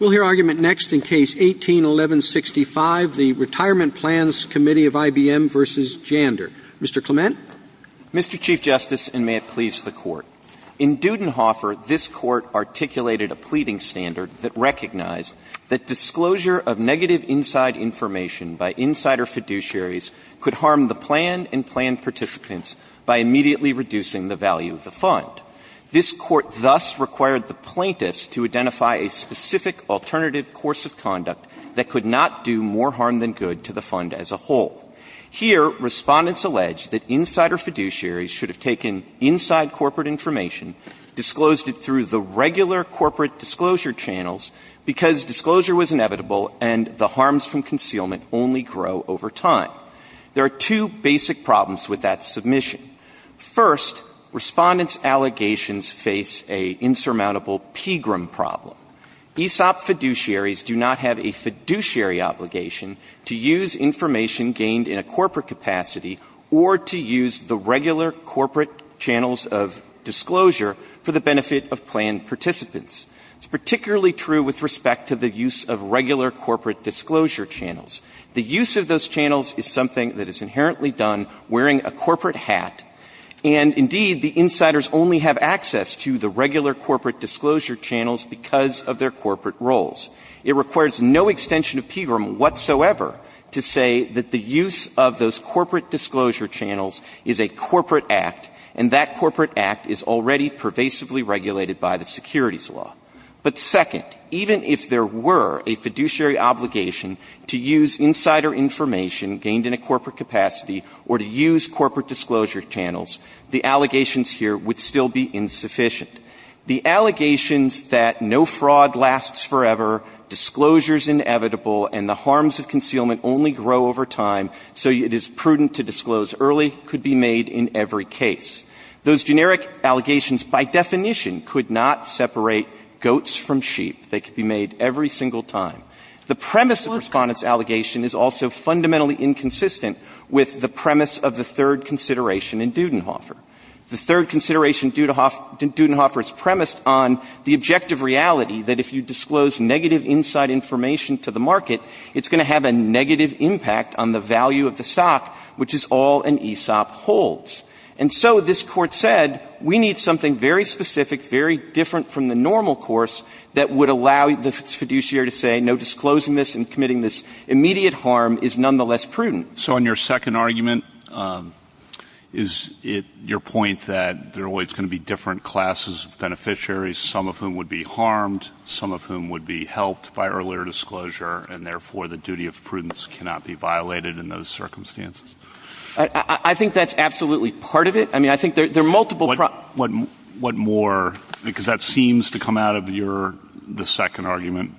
Mr. Clement. Mr. Chief Justice, and may it please the Court. In Dudenhofer, this Court articulated a pleading standard that recognized that disclosure of negative inside information by insider fiduciaries could harm the planned and planned participants by immediately reducing the value of the fund. This Court thus required the plaintiffs to identify a specific source of information that could be used to determine the value of the fund. In other words, a specific alternative course of conduct that could not do more harm than good to the fund as a whole. Here, Respondents allege that insider fiduciaries should have taken inside corporate information, disclosed it through the regular corporate disclosure channels, because disclosure was inevitable and the harms from concealment only grow over time. There are two basic problems with that submission. First, Respondents' allegations face an insurmountable PGRM problem. ESOP fiduciaries do not have a fiduciary obligation to use information gained in a corporate capacity or to use the regular corporate channels of disclosure for the benefit of planned participants. It's particularly true with respect to the use of regular corporate disclosure channels. The use of those channels is something that is inherently done wearing a corporate hat, and, indeed, the insiders only have access to the regular corporate disclosure channels because of their corporate roles. It requires no extension of PGRM whatsoever to say that the use of those corporate disclosure channels is a corporate act, and that But second, even if there were a fiduciary obligation to use insider information gained in a corporate capacity or to use corporate disclosure channels, the allegations here would still be insufficient. The allegations that no fraud lasts forever, disclosure is inevitable, and the harms of concealment only grow over time so it is prudent to disclose early could be made in every case. Those generic allegations, by definition, could not separate goats from sheep. They could be made every single time. The premise of Respondents' allegation is also fundamentally inconsistent with the premise of the third consideration in Dudenhofer. The third consideration in Dudenhofer is premised on the objective reality that if you disclose negative inside information to the market, it's going to have a negative impact on the value of the stock, which is all an ESOP holds. And so this Court said, we need something very specific, very different from the normal course that would allow the fiduciary to say no disclosing this and committing this immediate harm is nonetheless prudent. So in your second argument, is it your point that there are always going to be different classes of beneficiaries, some of whom would be harmed, some of whom would be helped by earlier disclosure, and therefore the duty of prudence cannot be violated in those circumstances? I think that's absolutely part of it. I mean, I think there are multiple problems. What more? Because that seems to come out of your second argument.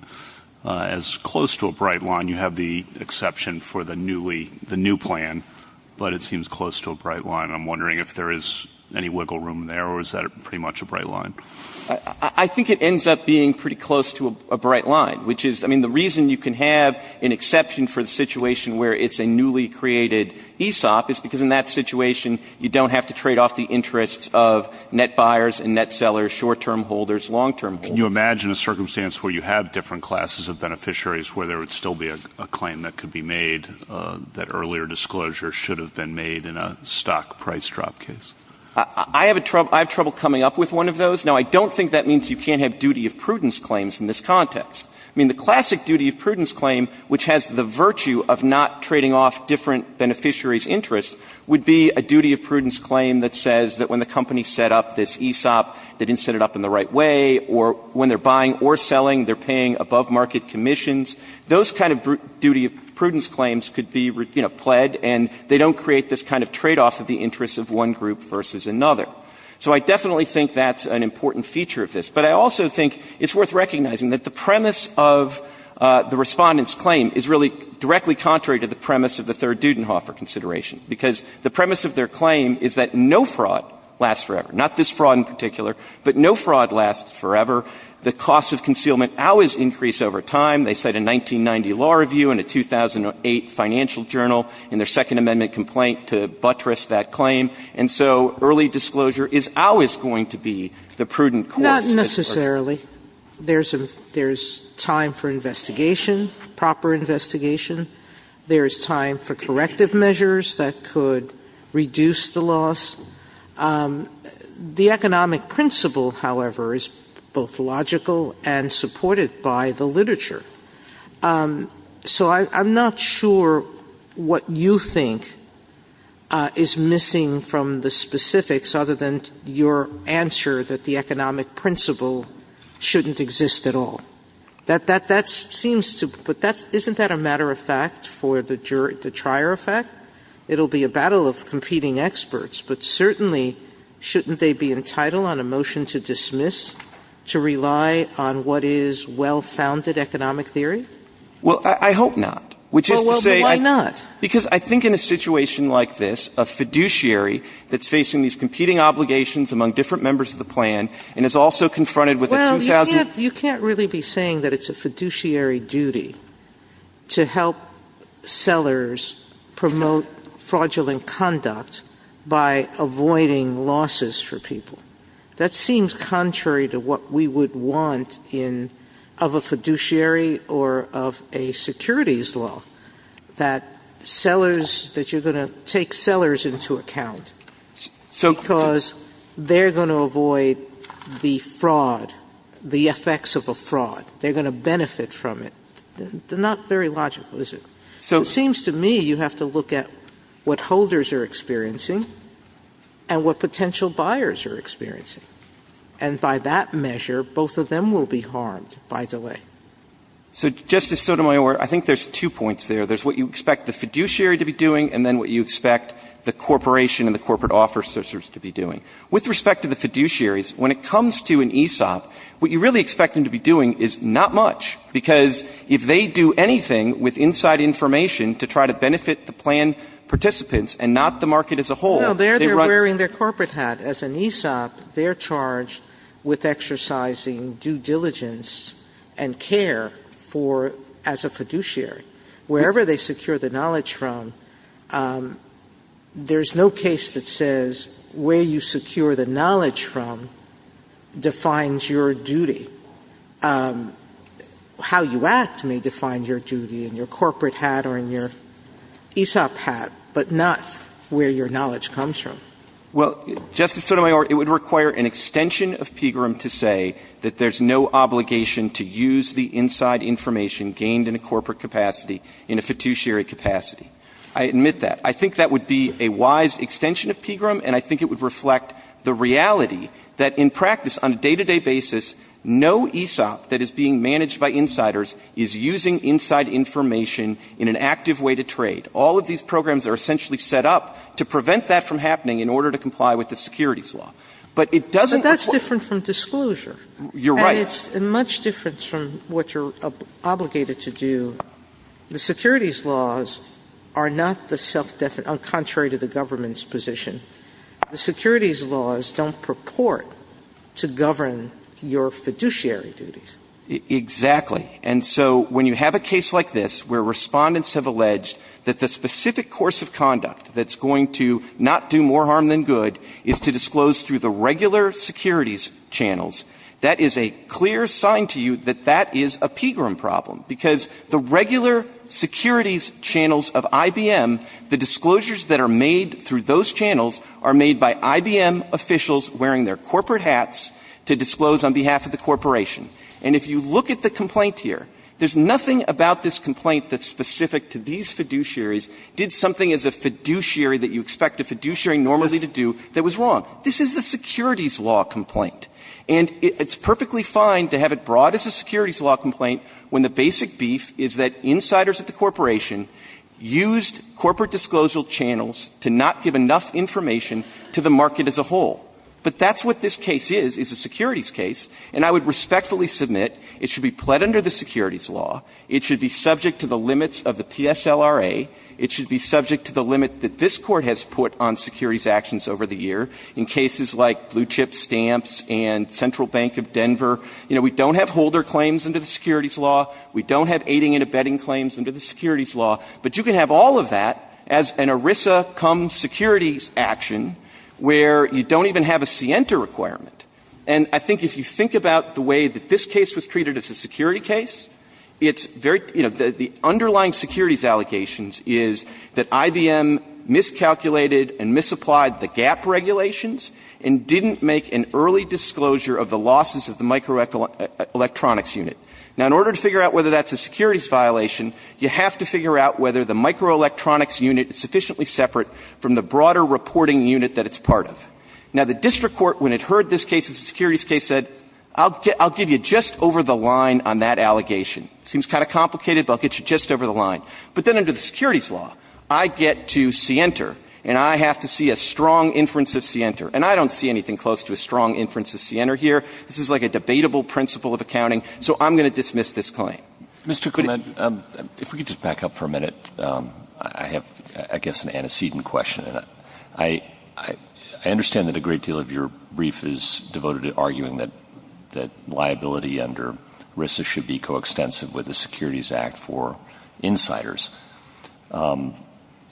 As close to a bright line, you have the exception for the newly, the new plan, but it seems close to a bright line. I'm wondering if there is any wiggle room there or is that pretty much a bright line? I think it ends up being pretty close to a bright line, which is, I mean, the reason you can have an exception for the situation where it's a newly created ESOP is because in that situation, you don't have to trade off the interests of net buyers and net sellers, short-term holders, long-term holders. Can you imagine a circumstance where you have different classes of beneficiaries where there would still be a claim that could be made that earlier disclosure should have been made in a stock price drop case? I have trouble coming up with one of those. Now, I don't think that means you can't have duty of prudence claims in this context. I mean, the classic duty of prudence claim, which has the virtue of not trading off different beneficiaries' interests, would be a duty of prudence claim that says that when the company set up this ESOP, they didn't set it up in the right way, or when they're buying or selling, they're paying above-market commissions. Those kind of duty of prudence claims could be, you know, pled, and they don't create this kind of tradeoff of the interests of one group versus another. So I definitely think that's an important feature of this. But I also think it's worth recognizing that the premise of the Respondent's claim is really directly contrary to the premise of the Third Dudenhofer consideration, because the premise of their claim is that no fraud lasts forever. Not this fraud in particular, but no fraud lasts forever. The costs of concealment always increase over time. They cite a 1990 law review and a 2008 financial journal in their Second Amendment complaint to buttress that claim. And so early disclosure is always going to be the prudent course. Sotomayor Not necessarily. There's time for investigation, proper investigation. There's time for corrective measures that could reduce the loss. The economic principle, however, is both logical and supported by the literature. So I'm not sure what you think is missing from the specifics other than your answer that the economic principle shouldn't exist at all. That seems to be – but isn't that a matter of fact for the trier effect? It'll be a battle of competing experts, but certainly shouldn't they be entitled on a motion to dismiss to rely on what is well-founded economic theory? Well, I hope not, which is to say – Well, why not? Because I think in a situation like this, a fiduciary that's facing these competing obligations among different members of the plan and is also confronted with a – You can't really be saying that it's a fiduciary duty to help sellers promote fraudulent conduct by avoiding losses for people. That seems contrary to what we would want in – of a fiduciary or of a securities law, that sellers – that you're going to take sellers into account because they're going to avoid the fraud, the effects of a fraud. They're going to benefit from it. They're not very logical, is it? It seems to me you have to look at what holders are experiencing and what potential buyers are experiencing, and by that measure, both of them will be harmed by delay. So, Justice Sotomayor, I think there's two points there. There's what you expect the fiduciary to be doing and then what you expect the corporation and the corporate officers to be doing. With respect to the fiduciaries, when it comes to an ESOP, what you really expect them to be doing is not much, because if they do anything with inside information to try to benefit the plan participants and not the market as a whole, they run – No, they're wearing their corporate hat. As an ESOP, they're charged with exercising due diligence and care for – as a fiduciary. Wherever they secure the knowledge from, there's no case that says where you secure the knowledge from defines your duty. How you act may define your duty, in your corporate hat or in your ESOP hat, but not where your knowledge comes from. Well, Justice Sotomayor, it would require an extension of PGRM to say that there's no obligation to use the inside information gained in a corporate capacity in a fiduciary capacity. I admit that. I think that would be a wise extension of PGRM, and I think it would reflect the reality that in practice, on a day-to-day basis, no ESOP that is being managed by insiders is using inside information in an active way to trade. All of these programs are essentially set up to prevent that from happening in order to comply with the securities law. But it doesn't – But that's different from disclosure. You're right. And it's much different from what you're obligated to do. Sotomayor, the securities laws are not the self-definite – contrary to the government's position, the securities laws don't purport to govern your fiduciary duties. Exactly. And so when you have a case like this where Respondents have alleged that the specific course of conduct that's going to not do more harm than good is to disclose through the regular securities channels, that is a clear sign to you that that is a PGRM problem, because the regular securities channels of IBM, the disclosures that are made through those channels are made by IBM officials wearing their corporate hats to disclose on behalf of the corporation. And if you look at the complaint here, there's nothing about this complaint that's specific to these fiduciaries did something as a fiduciary that you expect a fiduciary normally to do that was wrong. This is a securities law complaint. And it's perfectly fine to have it brought as a securities law complaint when the basic beef is that insiders at the corporation used corporate disclosure channels to not give enough information to the market as a whole. But that's what this case is, is a securities case. And I would respectfully submit it should be pled under the securities law, it should be subject to the limits of the PSLRA, it should be subject to the limit that this law, we don't have aiding and abetting claims under the securities law, but you can have all of that as an ERISA cum securities action where you don't even have a SIENTA requirement. And I think if you think about the way that this case was treated as a security case, it's very, you know, the underlying securities allegations is that IBM miscalculated and misapplied the gap regulations and didn't make an early disclosure of the losses of the microelectronics unit. Now, in order to figure out whether that's a securities violation, you have to figure out whether the microelectronics unit is sufficiently separate from the broader reporting unit that it's part of. Now, the district court, when it heard this case as a securities case, said, I'll give you just over the line on that allegation. It seems kind of complicated, but I'll get you just over the line. But then under the securities law, I get to SIENTA, and I have to see a strong inference of SIENTA here. This is like a debatable principle of accounting. So I'm going to dismiss this claim. Roberts. Mr. Clement, if we could just back up for a minute. I have, I guess, an antecedent question. I understand that a great deal of your brief is devoted to arguing that liability under ERISA should be coextensive with the Securities Act for insiders.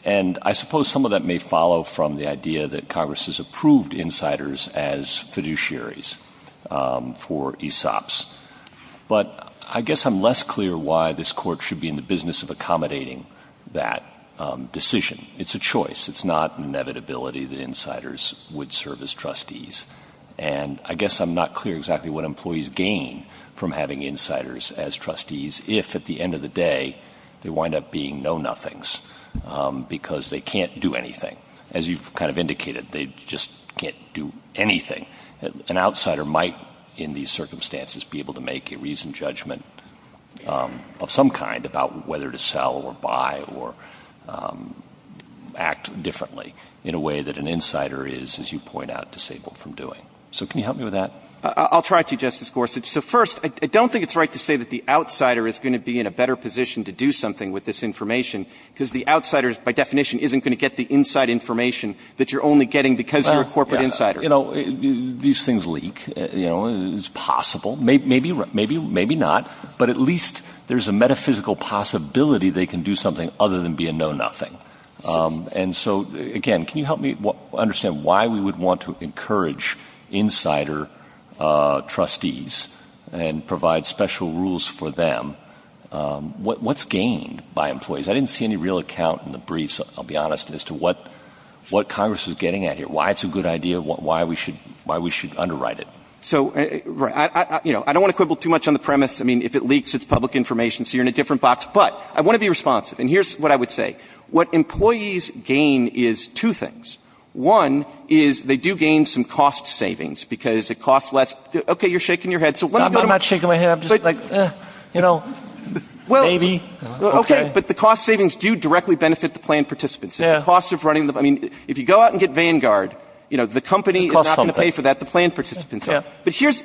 And I suppose some of that may follow from the idea that Congress has approved insiders as fiduciaries for ESOPs. But I guess I'm less clear why this Court should be in the business of accommodating that decision. It's a choice. It's not an inevitability that insiders would serve as trustees. And I guess I'm not clear exactly what employees gain from having insiders as trustees if, at the end of the day, they wind up being know-nothings because they can't do anything. As you've kind of indicated, they just can't do anything. An outsider might, in these circumstances, be able to make a reasoned judgment of some kind about whether to sell or buy or act differently in a way that an insider is, as you point out, disabled from doing. So can you help me with that? Clement. I'll try to, Justice Gorsuch. So first, I don't think it's right to say that the outsider is going to be in a better position to do something with this information because the outsider, by definition, isn't going to get the inside information that you're only getting because you're a corporate insider. These things leak. It's possible. Maybe not. But at least there's a metaphysical possibility they can do something other than be a know-nothing. And so, again, can you help me understand why we would want to encourage insider trustees and provide special rules for them? What's gained by employees? I didn't see any real account in the briefs, I'll be honest, as to what Congress was getting at here, why it's a good idea, why we should underwrite it. Clement. So, you know, I don't want to quibble too much on the premise. I mean, if it leaks, it's public information, so you're in a different box. But I want to be responsive. And here's what I would say. What employees gain is two things. One is they do gain some cost savings because it costs less. Okay. You're shaking your head. So let me go to my point. I'm not shaking my head. I'm just like, you know, maybe. Okay. But the cost savings do directly benefit the plan participants. Yeah. I mean, if you go out and get Vanguard, you know, the company is not going to pay for that, the plan participants are. Yeah. But here's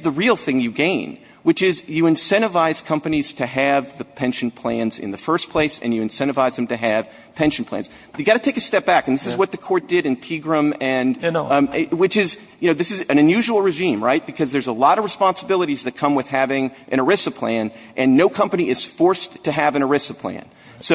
the real thing you gain, which is you incentivize companies to have the pension plans in the first place, and you incentivize them to have pension plans. You've got to take a step back. And this is what the court did in Pegram, which is, you know, this is an unusual regime, right, because there's a lot of responsibilities that come with having an So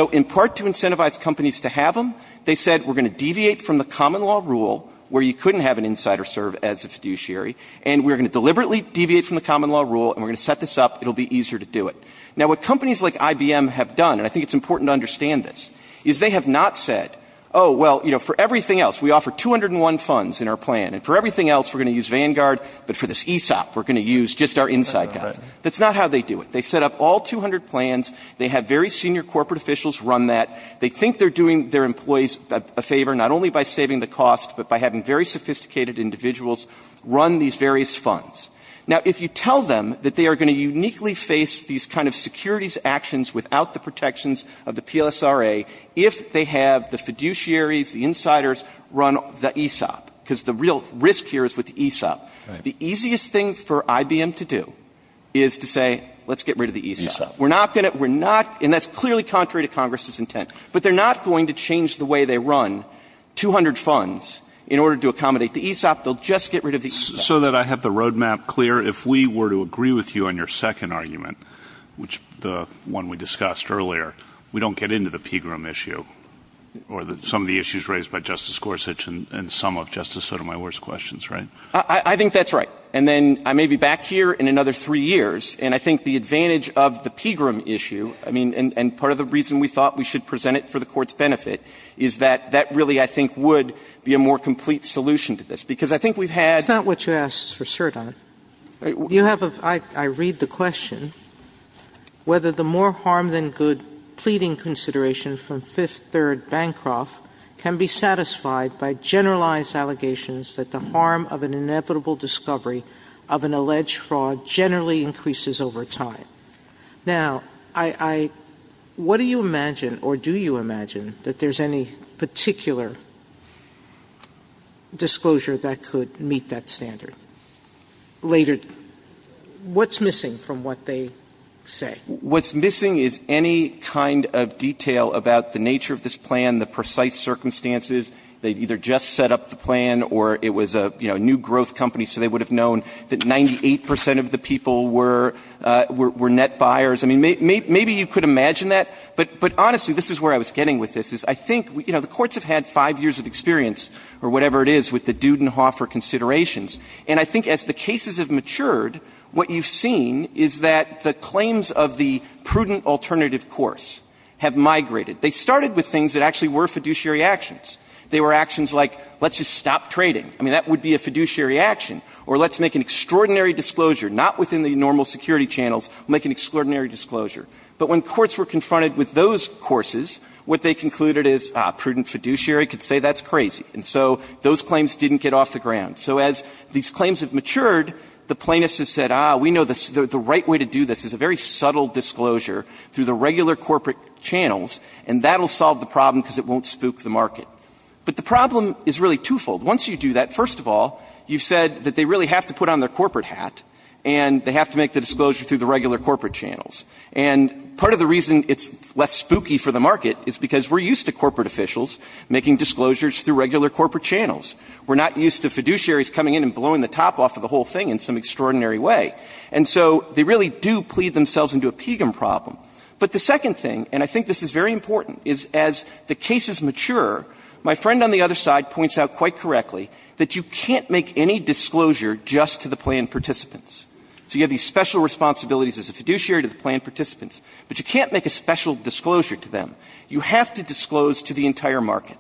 in part to incentivize companies to have them, they said we're going to deviate from the common law rule where you couldn't have an insider serve as a fiduciary, and we're going to deliberately deviate from the common law rule, and we're going to set this up. It'll be easier to do it. Now, what companies like IBM have done, and I think it's important to understand this, is they have not said, oh, well, you know, for everything else, we offer 201 funds in our plan, and for everything else, we're going to use Vanguard, but for this ESOP, we're going to use just our inside guys. That's not how they do it. They set up all 200 plans. They have very senior corporate officials run that. They think they're doing their employees a favor, not only by saving the cost, but by having very sophisticated individuals run these various funds. Now, if you tell them that they are going to uniquely face these kind of securities actions without the protections of the PLSRA if they have the fiduciaries, the insiders run the ESOP, because the real risk here is with the ESOP, the easiest thing for IBM to do is to say, let's get rid of the ESOP. We're not going to, we're not, and that's clearly contrary to Congress's intent, but they're not going to change the way they run 200 funds in order to accommodate the ESOP. They'll just get rid of the ESOP. So that I have the roadmap clear, if we were to agree with you on your second argument, which the one we discussed earlier, we don't get into the Pegram issue or some of the issues raised by Justice Gorsuch and some of Justice Sotomayor's questions, right? I think that's right, and then I may be back here in another three years, and I think the advantage of the Pegram issue, I mean, and part of the reason we thought we should present it for the Court's benefit, is that that really, I think, would be a more complete solution to this, because I think we've had. Sotomayor's That's not what you asked for, sir, Don. You have a, I read the question, whether the more harm than good pleading consideration from Fifth Third Bancroft can be satisfied by generalized allegations that the harm of an inevitable discovery of an alleged fraud generally increases over time. Now, I, I, what do you imagine, or do you imagine, that there's any particular disclosure that could meet that standard? Later, what's missing from what they say? What's missing is any kind of detail about the nature of this plan, the precise that 98 percent of the people were, were net buyers. I mean, maybe you could imagine that, but, but honestly, this is where I was getting with this, is I think, you know, the courts have had five years of experience, or whatever it is, with the Dudenhofer considerations, and I think as the cases have matured, what you've seen is that the claims of the prudent alternative course have migrated. They started with things that actually were fiduciary actions. They were actions like, let's just stop trading. I mean, that would be a fiduciary action, or let's make an extraordinary disclosure, not within the normal security channels, make an extraordinary disclosure. But when courts were confronted with those courses, what they concluded is, ah, prudent fiduciary could say that's crazy. And so those claims didn't get off the ground. So as these claims have matured, the plaintiffs have said, ah, we know the, the right way to do this is a very subtle disclosure through the regular corporate channels, and that'll solve the problem because it won't spook the market. But the problem is really twofold. Once you do that, first of all, you've said that they really have to put on their corporate hat, and they have to make the disclosure through the regular corporate channels. And part of the reason it's less spooky for the market is because we're used to corporate officials making disclosures through regular corporate channels. We're not used to fiduciaries coming in and blowing the top off of the whole thing in some extraordinary way. And so they really do plead themselves into a pegum problem. But the second thing, and I think this is very important, is as the cases mature, my friend on the other side points out quite correctly that you can't make any disclosure just to the planned participants. So you have these special responsibilities as a fiduciary to the planned participants, but you can't make a special disclosure to them. You have to disclose to the entire market.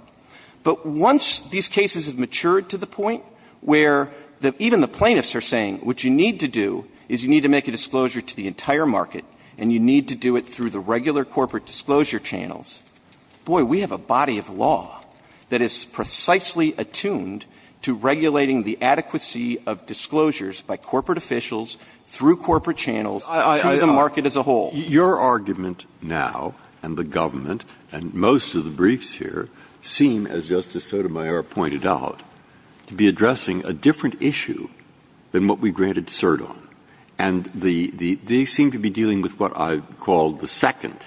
But once these cases have matured to the point where the, even the plaintiffs are saying what you need to do is you need to make a disclosure to the entire market, and you need to do it through the regular corporate disclosure channels, boy, we have a body of law. That is precisely attuned to regulating the adequacy of disclosures by corporate officials through corporate channels to the market as a whole. Breyer. Your argument now and the government and most of the briefs here seem, as Justice Sotomayor pointed out, to be addressing a different issue than what we granted cert on. And they seem to be dealing with what I call the second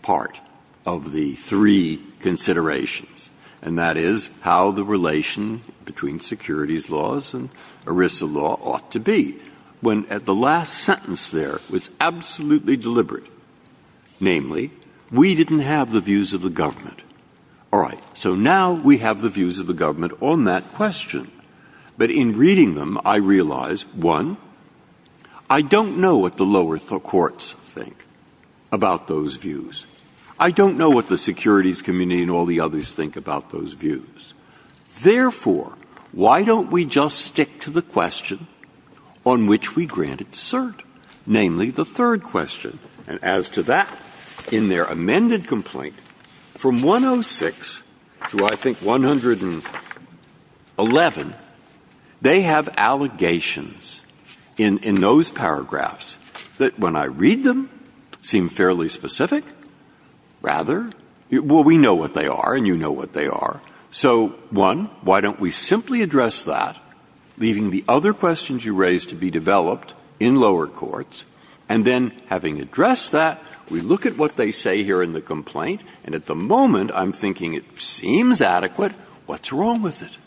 part of the three considerations. And that is how the relation between securities laws and ERISA law ought to be. When at the last sentence there, it was absolutely deliberate. Namely, we didn't have the views of the government. All right. So now we have the views of the government on that question. But in reading them, I realize, one, I don't know what the lower courts think about those views. I don't know what the securities community and all the others think about those views. Therefore, why don't we just stick to the question on which we granted cert? Namely, the third question. And as to that, in their amended complaint, from 106 to I think 111, they have allegations in those paragraphs that, when I read them, seem fairly specific. Rather, well, we know what they are and you know what they are. So, one, why don't we simply address that, leaving the other questions you raised to be developed in lower courts, and then having addressed that, we look at what they say here in the complaint. And at the moment, I'm thinking it seems adequate. What's wrong with it?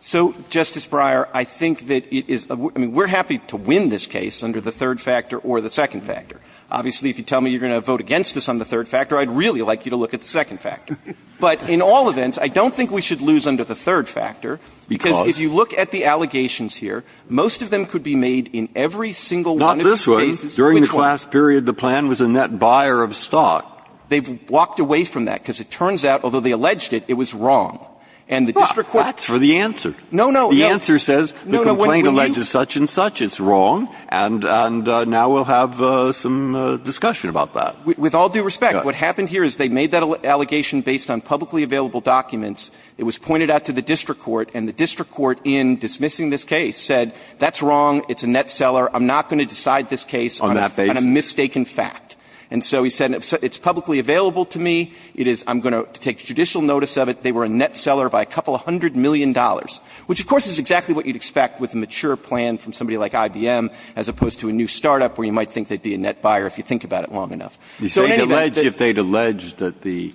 So, Justice Breyer, I think that it is – I mean, we're happy to win this case under the third factor or the second factor. Obviously, if you tell me you're going to vote against us on the third factor, I'd really like you to look at the second factor. But in all events, I don't think we should lose under the third factor, because if you look at the allegations here, most of them could be made in every single one of these cases. Not this one. During the class period, the plan was a net buyer of stock. They've walked away from that, because it turns out, although they alleged it, it was wrong. And the district court – Breyer, that's for the answer. No, no. The answer says the complaint alleges such and such. It's wrong. And now we'll have some discussion about that. With all due respect, what happened here is they made that allegation based on publicly available documents. It was pointed out to the district court, and the district court, in dismissing this case, said that's wrong, it's a net seller, I'm not going to decide this case on a mistaken fact. And so he said it's publicly available to me. It is – I'm going to take judicial notice of it. They were a net seller by a couple hundred million dollars, which, of course, is exactly what you'd expect with a mature plan from somebody like IBM, as opposed to a new startup where you might think they'd be a net buyer if you think about it long enough. So in any event – If they'd alleged that the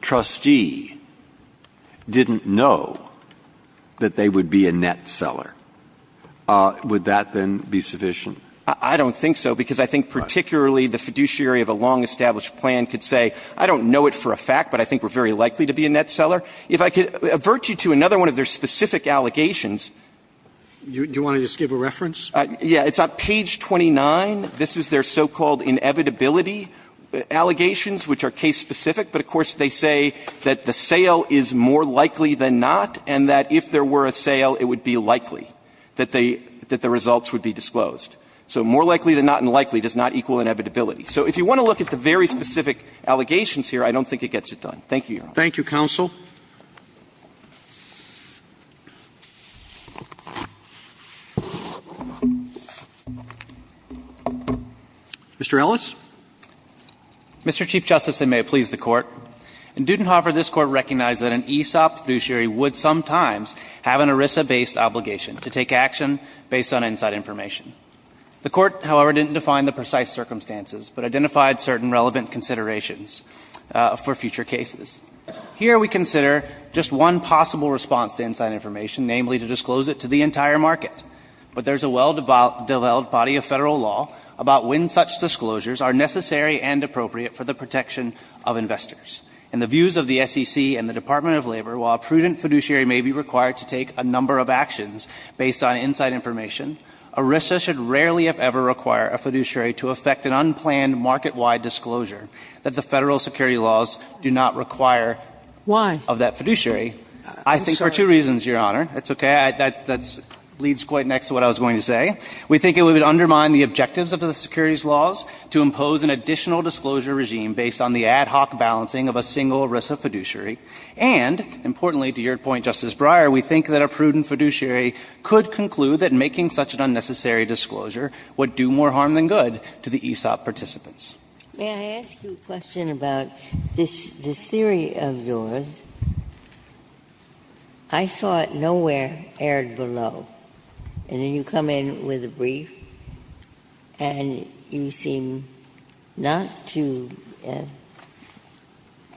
trustee didn't know that they would be a net seller, would that then be sufficient? I don't think so, because I think particularly the fiduciary of a long-established plan could say, I don't know it for a fact, but I think we're very likely to be a net seller. If I could avert you to another one of their specific allegations. Do you want to just give a reference? Yeah. It's on page 29. This is their so-called inevitability allegations, which are case-specific. But, of course, they say that the sale is more likely than not, and that if there were a sale, it would be likely that they – that the results would be disclosed. So more likely than not and likely does not equal inevitability. So if you want to look at the very specific allegations here, I don't think it gets it done. Thank you, Your Honor. Thank you, counsel. Mr. Ellis. Mr. Chief Justice, and may it please the Court. In Dudenhofer, this Court recognized that an ESOP fiduciary would sometimes have an ERISA-based obligation to take action based on inside information. The Court, however, didn't define the precise circumstances but identified certain relevant considerations for future cases. Here we consider just one possible response to inside information, namely to disclose it to the entire market. But there's a well-developed body of Federal law about when such disclosures are necessary and appropriate for the protection of investors. In the views of the SEC and the Department of Labor, while a prudent fiduciary may be required to take a number of actions based on inside information, ERISA should rarely, if ever, require a fiduciary to effect an unplanned market-wide disclosure that the Federal security laws do not require of that fiduciary. Why? I'm sorry. I think for two reasons, Your Honor. That's okay. That leads quite next to what I was going to say. We think it would undermine the objectives of the securities laws to impose an additional disclosure regime based on the ad hoc balancing of a single ERISA fiduciary. And, importantly, to your point, Justice Breyer, we think that a prudent fiduciary could conclude that making such an unnecessary disclosure would do more harm than good to the ESOP participants. Ginsburg. May I ask you a question about this theory of yours? I saw it nowhere aired below. And then you come in with a brief, and you seem not to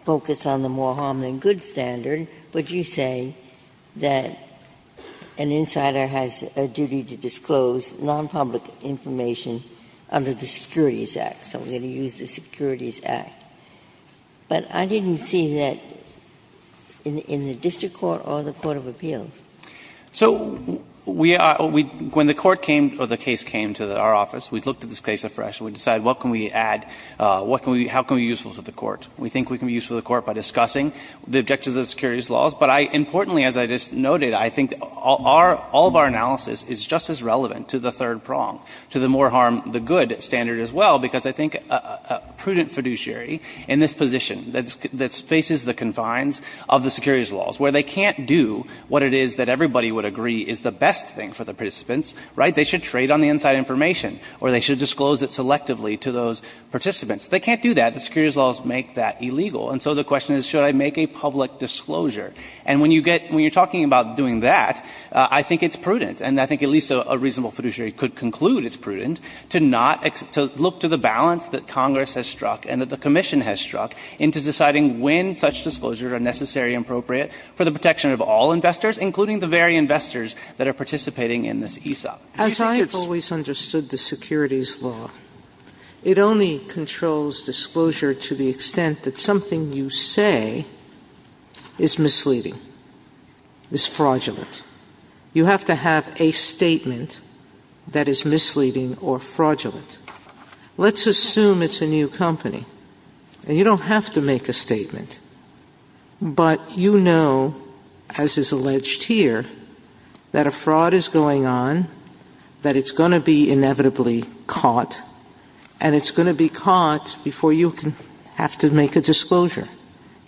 focus on the more harm than good standard, but you say that an insider has a duty to disclose nonpublic information under the Securities Act. So we're going to use the Securities Act. But I didn't see that in the district court or the court of appeals. So we are – when the court came, or the case came to our office, we looked at this case afresh, and we decided what can we add, what can we – how can we be useful to the court. We think we can be useful to the court by discussing the objectives of the securities laws. But I – importantly, as I just noted, I think our – all of our analysis is just as relevant to the third prong, to the more harm than good standard as well, because I think a prudent fiduciary in this position that faces the confines of the securities laws, where they can't do what it is that everybody would agree is the best thing for the participants, right? They should trade on the inside information, or they should disclose it selectively to those participants. They can't do that. The securities laws make that illegal. And so the question is, should I make a public disclosure? And when you get – when you're talking about doing that, I think it's prudent, and I think at least a reasonable fiduciary could conclude it's prudent, to not – to look to the balance that Congress has struck and that the commission has struck into deciding when such disclosures are necessary and appropriate for the protection of all investors, including the very investors that are participating in this ESOP. As I have always understood the securities law, it only controls disclosure to the extent that something you say is misleading, is fraudulent. You have to have a statement that is misleading or fraudulent. Let's assume it's a new company, and you don't have to make a statement, but you inevitably caught, and it's going to be caught before you have to make a disclosure.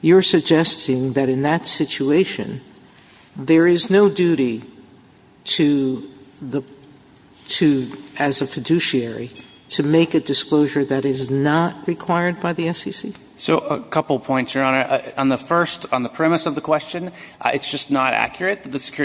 You're suggesting that in that situation, there is no duty to the – to, as a fiduciary, to make a disclosure that is not required by the SEC? So, a couple points, Your Honor. On the first – on the premise of the question, it's just not accurate that the –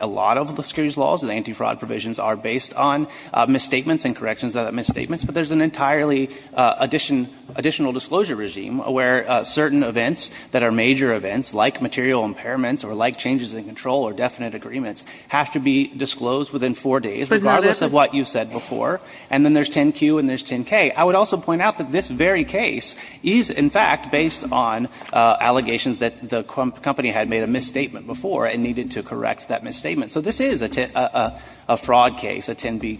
a lot of the securities laws and anti-fraud provisions are based on misstatements and corrections of misstatements, but there's an entirely additional disclosure regime where certain events that are major events, like material impairments or like changes in control or definite agreements, have to be disclosed within four days, regardless of what you've said before. And then there's 10-Q and there's 10-K. I would also point out that this very case is, in fact, based on allegations that the company had made a misstatement before and needed to correct that misstatement. So this is a fraud case, a 10-B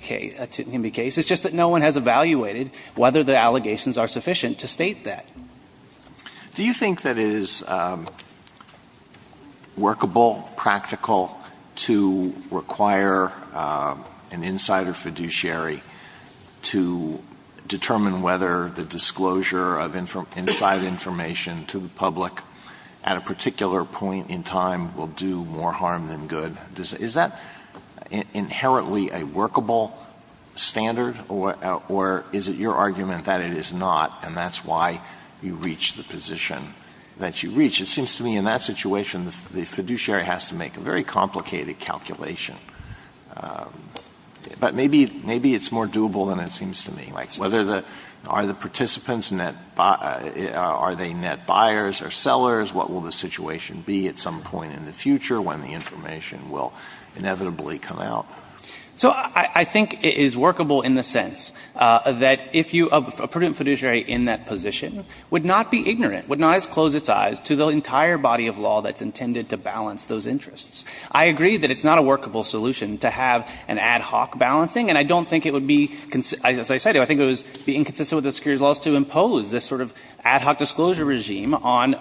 case. It's just that no one has evaluated whether the allegations are sufficient to state that. Do you think that it is workable, practical, to require an insider fiduciary to determine whether the disclosure of inside information to the public is sufficient at a particular point in time will do more harm than good? Is that inherently a workable standard, or is it your argument that it is not and that's why you reach the position that you reach? It seems to me in that situation the fiduciary has to make a very complicated calculation. But maybe it's more doable than it seems to me. Whether the – are the participants net – are they net buyers or sellers? What will the situation be at some point in the future when the information will inevitably come out? So I think it is workable in the sense that if you – a prudent fiduciary in that position would not be ignorant, would not as close its eyes to the entire body of law that's intended to balance those interests. I agree that it's not a workable solution to have an ad hoc balancing, and I don't think it would be – as I said, I think it would be inconsistent with the securities laws to impose this sort of ad hoc disclosure regime on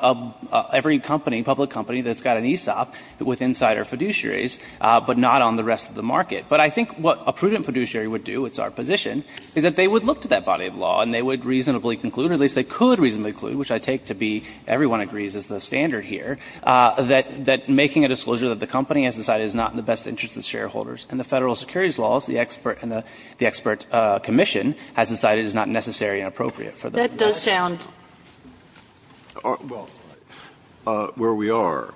every company, public company, that's got an ESOP with insider fiduciaries, but not on the rest of the market. But I think what a prudent fiduciary would do, it's our position, is that they would look to that body of law and they would reasonably conclude, or at least they could reasonably conclude, which I take to be everyone agrees is the standard here, that making a disclosure that the company has decided is not in the best interest of the shareholders and the Federal securities laws, the expert and the expert commission has decided is not necessary and appropriate for them. That does sound. Breyer. Well, where we are,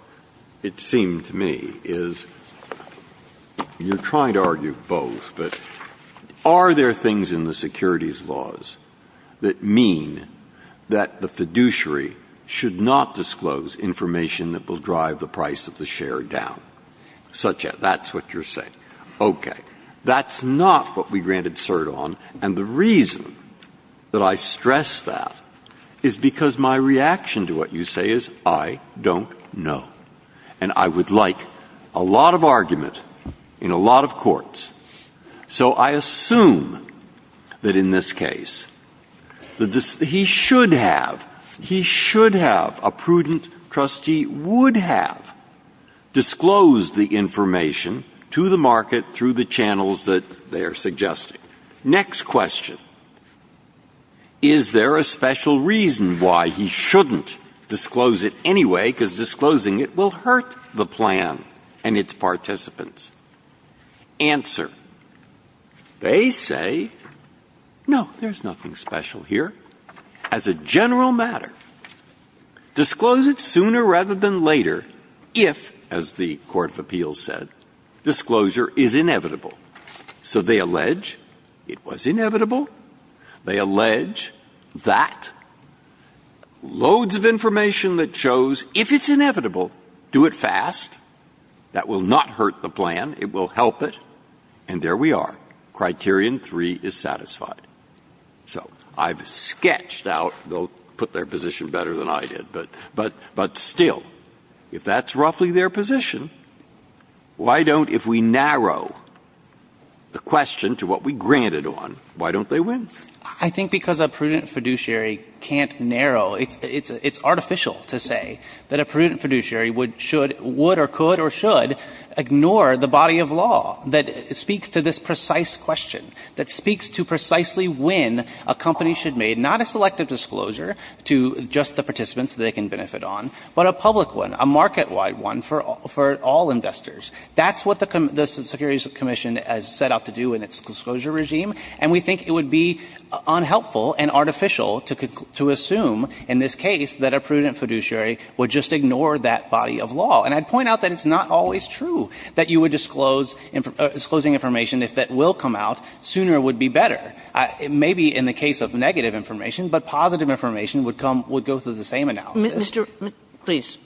it seemed to me, is you're trying to argue both, but are there things in the securities laws that mean that the fiduciary should not disclose information that will drive the price of the share down? That's what you're saying. Okay. That's not what we granted cert on. And the reason that I stress that is because my reaction to what you say is, I don't know. So I assume that in this case, he should have, he should have, a prudent trustee would have disclosed the information to the market through the channels that they are suggesting. Next question. Is there a special reason why he shouldn't disclose it anyway? Because disclosing it will hurt the plan and its participants. Answer. They say, no, there's nothing special here. As a general matter, disclose it sooner rather than later if, as the court of appeals said, disclosure is inevitable. So they allege it was inevitable. They allege that loads of information that shows if it's inevitable, do it fast, that will not hurt the plan. It will help it. And there we are. Criterion 3 is satisfied. So I've sketched out, they'll put their position better than I did, but still, if that's roughly their position, why don't, if we narrow the question to what we granted on, why don't they win? I think because a prudent fiduciary can't narrow. It's artificial to say that a prudent fiduciary would, should, would or could or should ignore the body of law that speaks to this precise question, that speaks to precisely when a company should make not a selective disclosure to just the participants they can benefit on, but a public one, a market-wide one for all investors. That's what the Securities Commission has set out to do in its disclosure regime. And we think it would be unhelpful and artificial to assume in this case that a prudent fiduciary would just ignore that body of law. And I'd point out that it's not always true that you would disclose, disclosing information if that will come out. Sooner would be better. It may be in the case of negative information, but positive information would come, would go through the same analysis. Kagan. Please.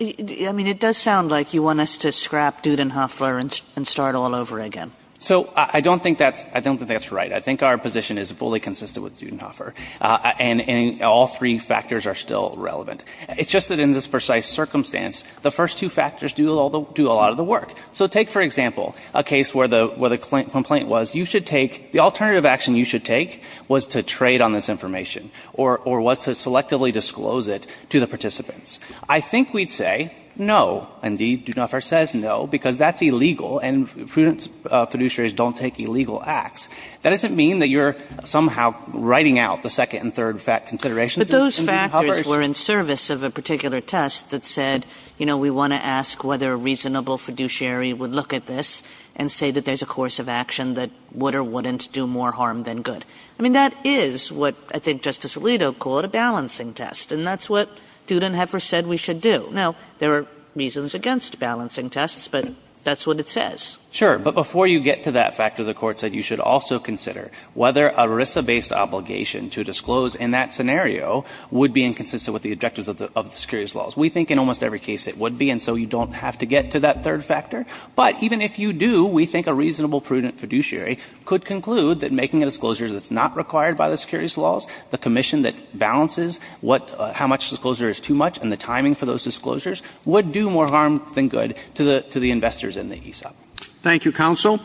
I mean, it does sound like you want us to scrap Dudenhoffler and start all over again. So I don't think that's, I don't think that's right. I think our position is fully consistent with Dudenhoffler. And, and all three factors are still relevant. It's just that in this precise circumstance, the first two factors do all the, do a lot of the work. So take, for example, a case where the, where the complaint was you should take, the alternative action you should take was to trade on this information or, or was to selectively disclose it to the participants. I think we'd say no. Indeed, Dudenhoffler says no, because that's illegal, and prudent fiduciaries don't take illegal acts. That doesn't mean that you're somehow writing out the second and third considerations in Dudenhoffler's. But those factors were in service of a particular test that said, you know, we want to ask whether a reasonable fiduciary would look at this and say that there's a course of action that would or wouldn't do more harm than good. I mean, that is what I think Justice Alito called a balancing test. And that's what Dudenhoffler said we should do. Now, there are reasons against balancing tests, but that's what it says. Sure. But before you get to that factor, the Court said you should also consider whether a RISA-based obligation to disclose in that scenario would be inconsistent with the objectives of the, of the securities laws. We think in almost every case it would be, and so you don't have to get to that third factor. But even if you do, we think a reasonable prudent fiduciary could conclude that making a disclosure that's not required by the securities laws, the commission that balances what, how much disclosure is too much and the timing for those disclosures would do more harm than good to the, to the investors in the ESOP. Thank you, counsel.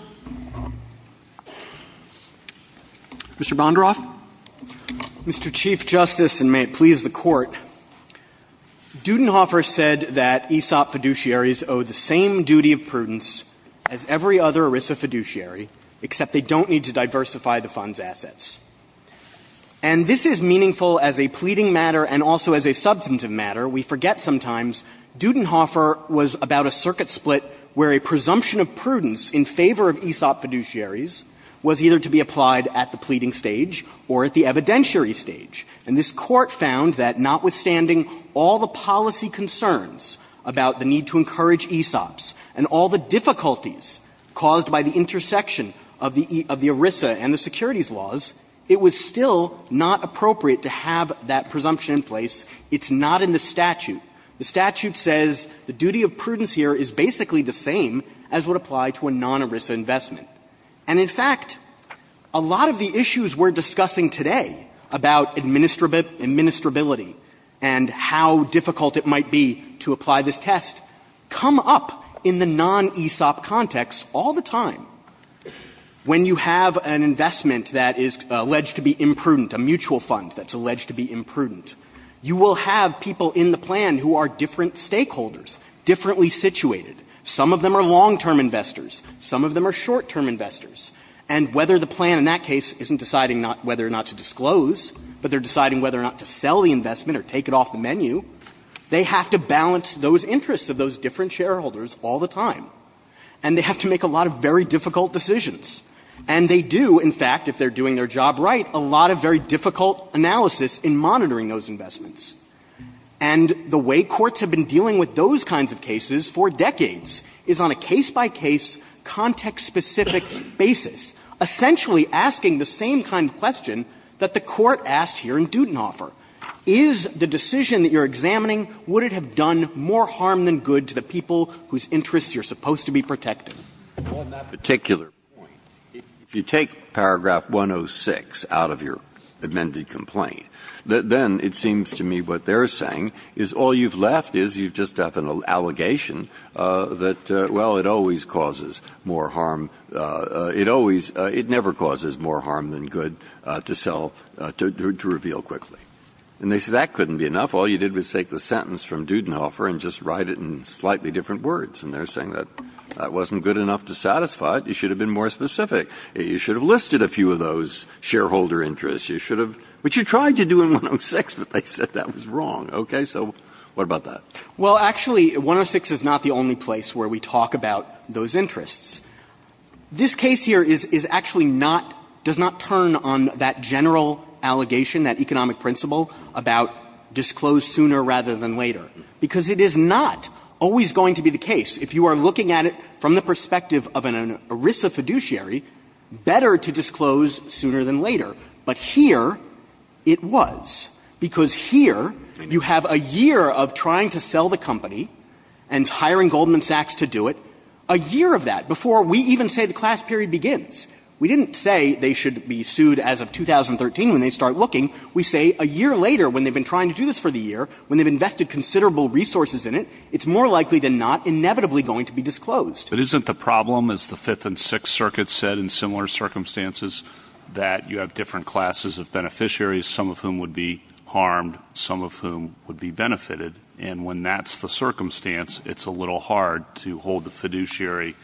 Mr. Bonderoff. Mr. Chief Justice, and may it please the Court, Dudenhoffler said that ESOP fiduciaries owe the same duty of prudence as every other RISA fiduciary, except they don't need to diversify the fund's assets. And this is meaningful as a pleading matter and also as a substantive matter. We forget sometimes Dudenhoffler was about a circuit split where a presumption of prudence in favor of ESOP fiduciaries was either to be applied at the pleading stage or at the evidentiary stage. And this Court found that notwithstanding all the policy concerns about the need to encourage ESOPs and all the difficulties caused by the intersection of the, of the two, it was still not appropriate to have that presumption in place. It's not in the statute. The statute says the duty of prudence here is basically the same as would apply to a non-ERISA investment. And in fact, a lot of the issues we're discussing today about administrability and how difficult it might be to apply this test come up in the non-ESOP context all the time. When you have an investment that is alleged to be imprudent, a mutual fund that's alleged to be imprudent, you will have people in the plan who are different stakeholders, differently situated. Some of them are long-term investors. Some of them are short-term investors. And whether the plan in that case isn't deciding not, whether or not to disclose, but they're deciding whether or not to sell the investment or take it off the menu, they have to balance those interests of those different shareholders all the time. And they have to make a lot of very difficult decisions. And they do, in fact, if they're doing their job right, a lot of very difficult analysis in monitoring those investments. And the way courts have been dealing with those kinds of cases for decades is on a case-by-case, context-specific basis, essentially asking the same kind of question that the Court asked here in Dutenhofer. Is the decision that you're examining, would it have done more harm than good to the host to be protected? Breyer. On that particular point, if you take paragraph 106 out of your amended complaint, then it seems to me what they're saying is all you've left is you just have an allegation that, well, it always causes more harm. It never causes more harm than good to sell, to reveal quickly. And they say that couldn't be enough. All you did was take the sentence from Dutenhofer and just write it in slightly different words. And they're saying that that wasn't good enough to satisfy it. You should have been more specific. You should have listed a few of those shareholder interests. You should have. Which you tried to do in 106, but they said that was wrong. Okay? So what about that? Well, actually, 106 is not the only place where we talk about those interests. This case here is actually not, does not turn on that general allegation, that economic principle about disclose sooner rather than later, because it is not always going to be the case. If you are looking at it from the perspective of an ERISA fiduciary, better to disclose sooner than later. But here it was, because here you have a year of trying to sell the company and hiring Goldman Sachs to do it, a year of that, before we even say the class period begins. We didn't say they should be sued as of 2013 when they start looking. We say a year later, when they've been trying to do this for the year, when they've invested considerable resources in it, it's more likely than not inevitably going to be disclosed. But isn't the problem, as the Fifth and Sixth Circuits said in similar circumstances, that you have different classes of beneficiaries, some of whom would be harmed, some of whom would be benefited, and when that's the circumstance, it's a little hard to hold the fiduciary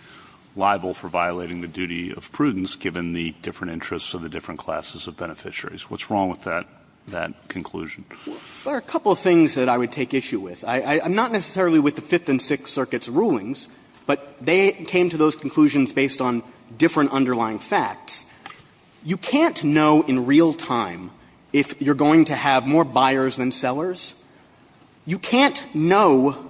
liable for violating the duty of prudence, given the different interests of the different classes of beneficiaries. What's wrong with that, that conclusion? There are a couple of things that I would take issue with. I'm not necessarily with the Fifth and Sixth Circuits' rulings, but they came to those conclusions based on different underlying facts. You can't know in real time if you're going to have more buyers than sellers. You can't know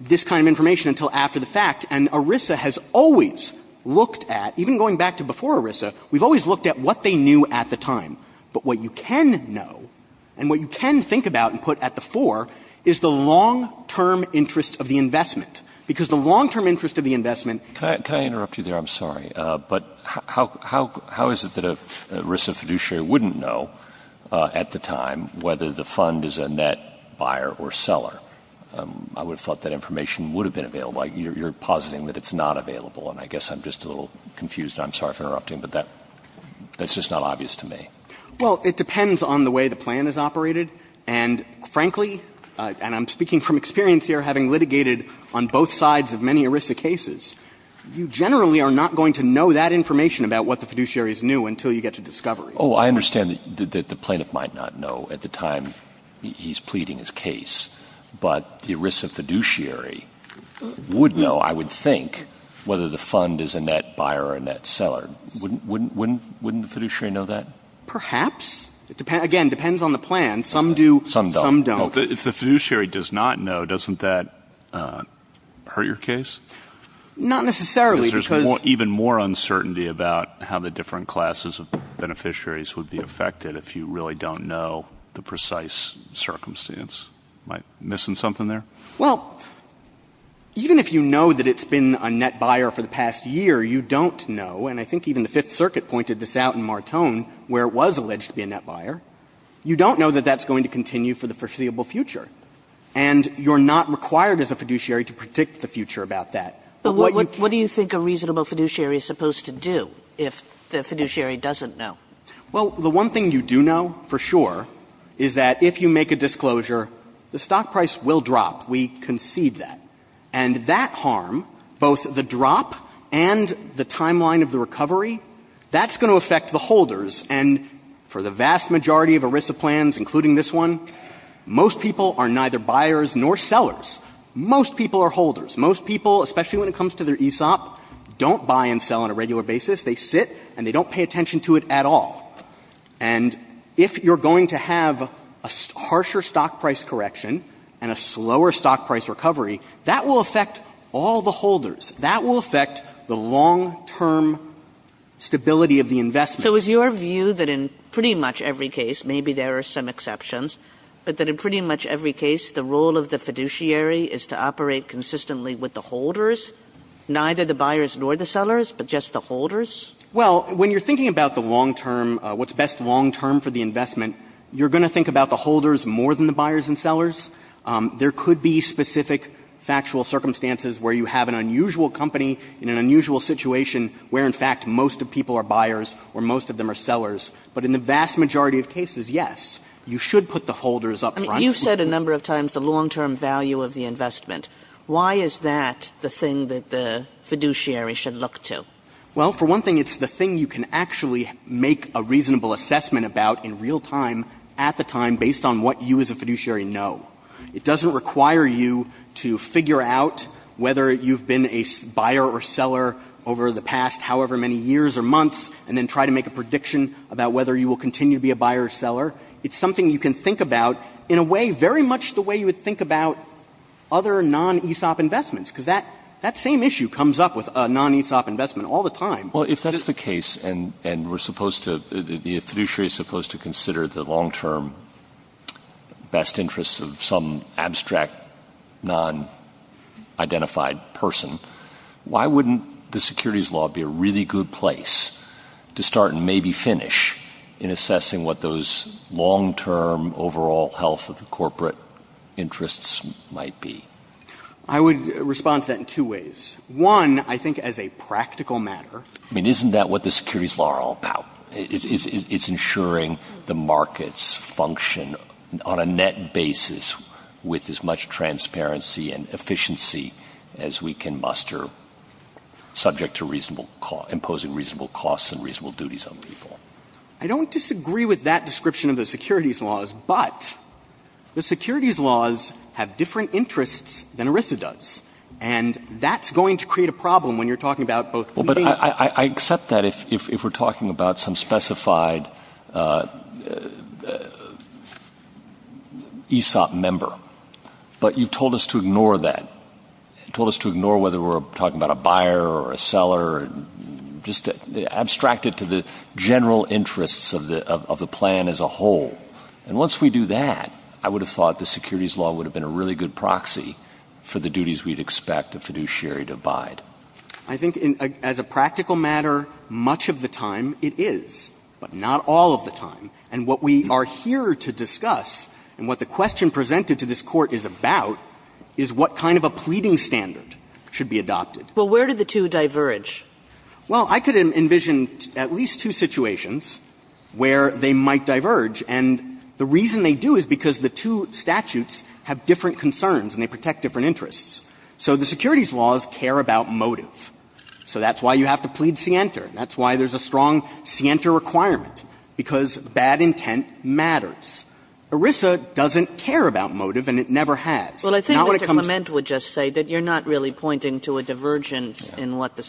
this kind of information until after the fact. And ERISA has always looked at, even going back to before ERISA, we've always looked at what they knew at the time. But what you can know, and what you can think about and put at the fore, is the long-term interest of the investment, because the long-term interest of the investment can't be determined. Roberts. But how is it that an ERISA fiduciary wouldn't know at the time whether the fund is a net buyer or seller? I would have thought that information would have been available. You're positing that it's not available, and I guess I'm just a little confused. I'm sorry for interrupting, but that's just not obvious to me. Well, it depends on the way the plan is operated. And, frankly, and I'm speaking from experience here, having litigated on both sides of many ERISA cases, you generally are not going to know that information about what the fiduciary is new until you get to discovery. Oh, I understand that the plaintiff might not know at the time he's pleading his case, but the ERISA fiduciary would know, I would think, whether the fund is a net buyer or a net seller. Wouldn't the fiduciary know that? Perhaps. Again, it depends on the plan. Some do, some don't. If the fiduciary does not know, doesn't that hurt your case? Not necessarily, because — Because there's even more uncertainty about how the different classes of beneficiaries would be affected if you really don't know the precise circumstance. Am I missing something there? Well, even if you know that it's been a net buyer for the past year, you don't know, and I think even the Fifth Circuit pointed this out in Martone, where it was alleged to be a net buyer, you don't know that that's going to continue for the foreseeable future. And you're not required as a fiduciary to predict the future about that. But what you can't do. But what do you think a reasonable fiduciary is supposed to do if the fiduciary doesn't know? Well, the one thing you do know for sure is that if you make a disclosure, the stock price will drop. We concede that. And that harm, both the drop and the timeline of the recovery, that's going to affect the holders. And for the vast majority of ERISA plans, including this one, most people are neither buyers nor sellers. Most people are holders. Most people, especially when it comes to their ESOP, don't buy and sell on a regular basis. They sit and they don't pay attention to it at all. And if you're going to have a harsher stock price correction and a slower stock price recovery, that will affect all the holders. That will affect the long-term stability of the investment. Kagan. So is your view that in pretty much every case, maybe there are some exceptions, but that in pretty much every case the role of the fiduciary is to operate consistently with the holders, neither the buyers nor the sellers, but just the holders? Well, when you're thinking about the long-term, what's best long-term for the investment, you're going to think about the holders more than the buyers and sellers. There could be specific factual circumstances where you have an unusual company in an unusual situation where, in fact, most of people are buyers or most of them are sellers. But in the vast majority of cases, yes, you should put the holders up front. You said a number of times the long-term value of the investment. Why is that the thing that the fiduciary should look to? Well, for one thing, it's the thing you can actually make a reasonable assessment about in real time at the time based on what you as a fiduciary know. It doesn't require you to figure out whether you've been a buyer or seller over the past however many years or months and then try to make a prediction about whether you will continue to be a buyer or seller. It's something you can think about in a way very much the way you would think about other non-ESOP investments, because that same issue comes up with a non-ESOP investment all the time. Well, if that is the case, and we're supposed to — the fiduciary is supposed to consider the long-term best interests of some abstract, non-identified person, why wouldn't the securities law be a really good place to start and maybe finish in assessing what those long-term overall health of the corporate interests might be? I would respond to that in two ways. One, I think as a practical matter. I mean, isn't that what the securities law are all about? It's ensuring the markets function on a net basis with as much transparency and efficiency as we can muster subject to reasonable — imposing reasonable costs and reasonable duties on people. I don't disagree with that description of the securities laws, but the securities laws have different interests than ERISA does, and that's going to create a problem when you're talking about both — Well, but I accept that if we're talking about some specified ESOP member, but you've told us to ignore that. You told us to ignore whether we're talking about a buyer or a seller, just abstract it to the general interests of the plan as a whole. And once we do that, I would have thought the securities law would have been a really good proxy for the duties we'd expect a fiduciary to abide. I think as a practical matter, much of the time it is, but not all of the time. And what we are here to discuss and what the question presented to this Court is about is what kind of a pleading standard should be adopted. Well, where do the two diverge? Well, I could envision at least two situations where they might diverge. And the reason they do is because the two statutes have different concerns and they protect different interests. So the securities laws care about motive. So that's why you have to plead scienter. That's why there's a strong scienter requirement, because bad intent matters. ERISA doesn't care about motive, and it never has. Now when it comes to the —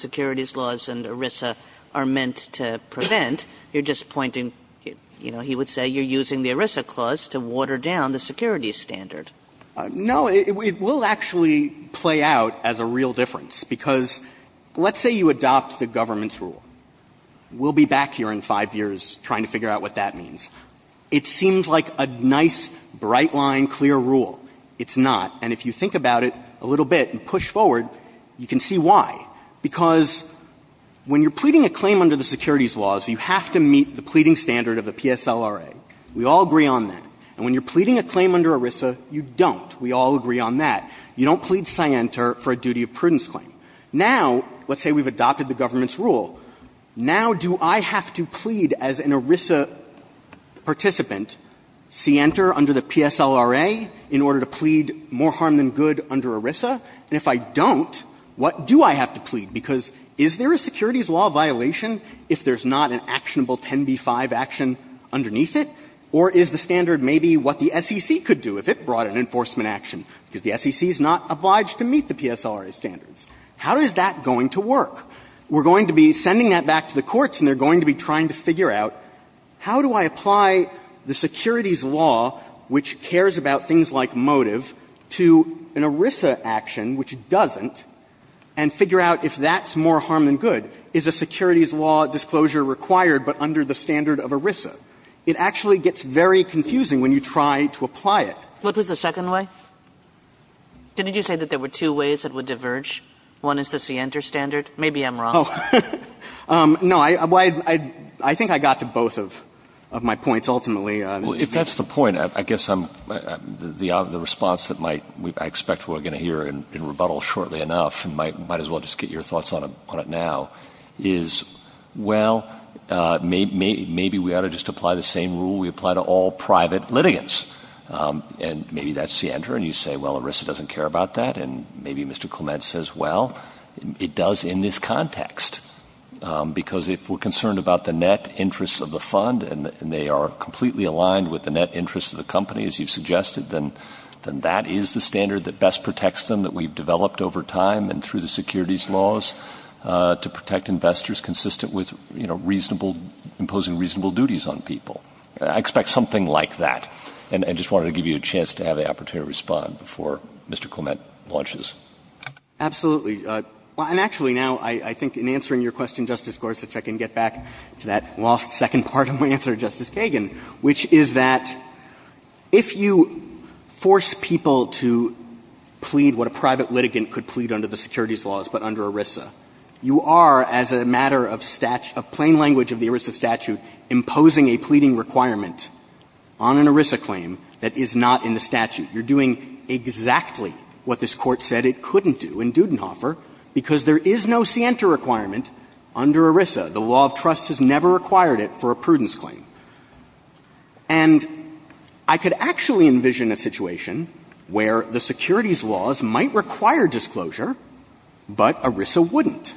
Kagan's laws and ERISA are meant to prevent, you're just pointing, you know, he would say you're using the ERISA clause to water down the securities standard. No. It will actually play out as a real difference. Because let's say you adopt the government's rule. We'll be back here in five years trying to figure out what that means. It seems like a nice, bright line, clear rule. It's not. And if you think about it a little bit and push forward, you can see why. Because when you're pleading a claim under the securities laws, you have to meet the pleading standard of the PSLRA. We all agree on that. And when you're pleading a claim under ERISA, you don't. We all agree on that. You don't plead scienter for a duty of prudence claim. Now, let's say we've adopted the government's rule. Now do I have to plead as an ERISA participant scienter under the PSLRA in order to plead more harm than good under ERISA? And if I don't, what do I have to plead? Because is there a securities law violation if there's not an actionable 10b-5 action underneath it? Or is the standard maybe what the SEC could do if it brought an enforcement action, because the SEC is not obliged to meet the PSLRA standards? How is that going to work? We're going to be sending that back to the courts, and they're going to be trying to figure out how do I apply the securities law, which cares about things like ERISA action, which doesn't, and figure out if that's more harm than good. Is a securities law disclosure required but under the standard of ERISA? It actually gets very confusing when you try to apply it. Kagan. What was the second way? Didn't you say that there were two ways it would diverge? One is the scienter standard. Maybe I'm wrong. No. I think I got to both of my points, ultimately. Well, if that's the point, I guess the response that I expect we're going to hear in rebuttal shortly enough, might as well just get your thoughts on it now, is, well, maybe we ought to just apply the same rule we apply to all private litigants. And maybe that's the answer. And you say, well, ERISA doesn't care about that. And maybe Mr. Clement says, well, it does in this context, because if we're completely aligned with the net interest of the company, as you've suggested, then that is the standard that best protects them, that we've developed over time and through the securities laws to protect investors consistent with, you know, reasonable — imposing reasonable duties on people. I expect something like that. And I just wanted to give you a chance to have the opportunity to respond before Mr. Clement launches. Absolutely. And actually, now, I think in answering your question, Justice Gorsuch, I can get back to that lost second part of my answer to Justice Kagan, which is that if you force people to plead what a private litigant could plead under the securities laws but under ERISA, you are, as a matter of plain language of the ERISA statute, imposing a pleading requirement on an ERISA claim that is not in the statute. You're doing exactly what this Court said it couldn't do in Dudenhofer, because there is no scienter requirement under ERISA. The law of trust has never required it for a prudence claim. And I could actually envision a situation where the securities laws might require disclosure, but ERISA wouldn't.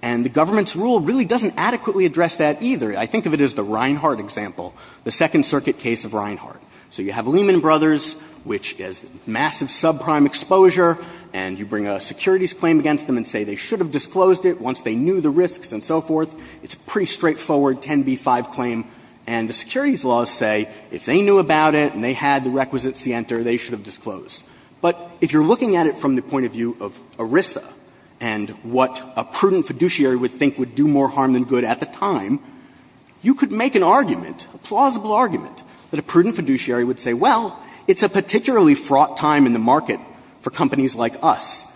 And the government's rule really doesn't adequately address that either. I think of it as the Reinhardt example, the Second Circuit case of Reinhardt. So you have Lehman Brothers, which has massive subprime exposure, and you bring a securities claim against them and say they should have disclosed it once they knew the risks and so forth. It's a pretty straightforward 10b-5 claim. And the securities laws say if they knew about it and they had the requisite scienter, they should have disclosed. But if you're looking at it from the point of view of ERISA and what a prudent fiduciary would think would do more harm than good at the time, you could make an argument, a plausible argument, that a prudent fiduciary would say, well, it's a particularly fraught time in the market for companies like us.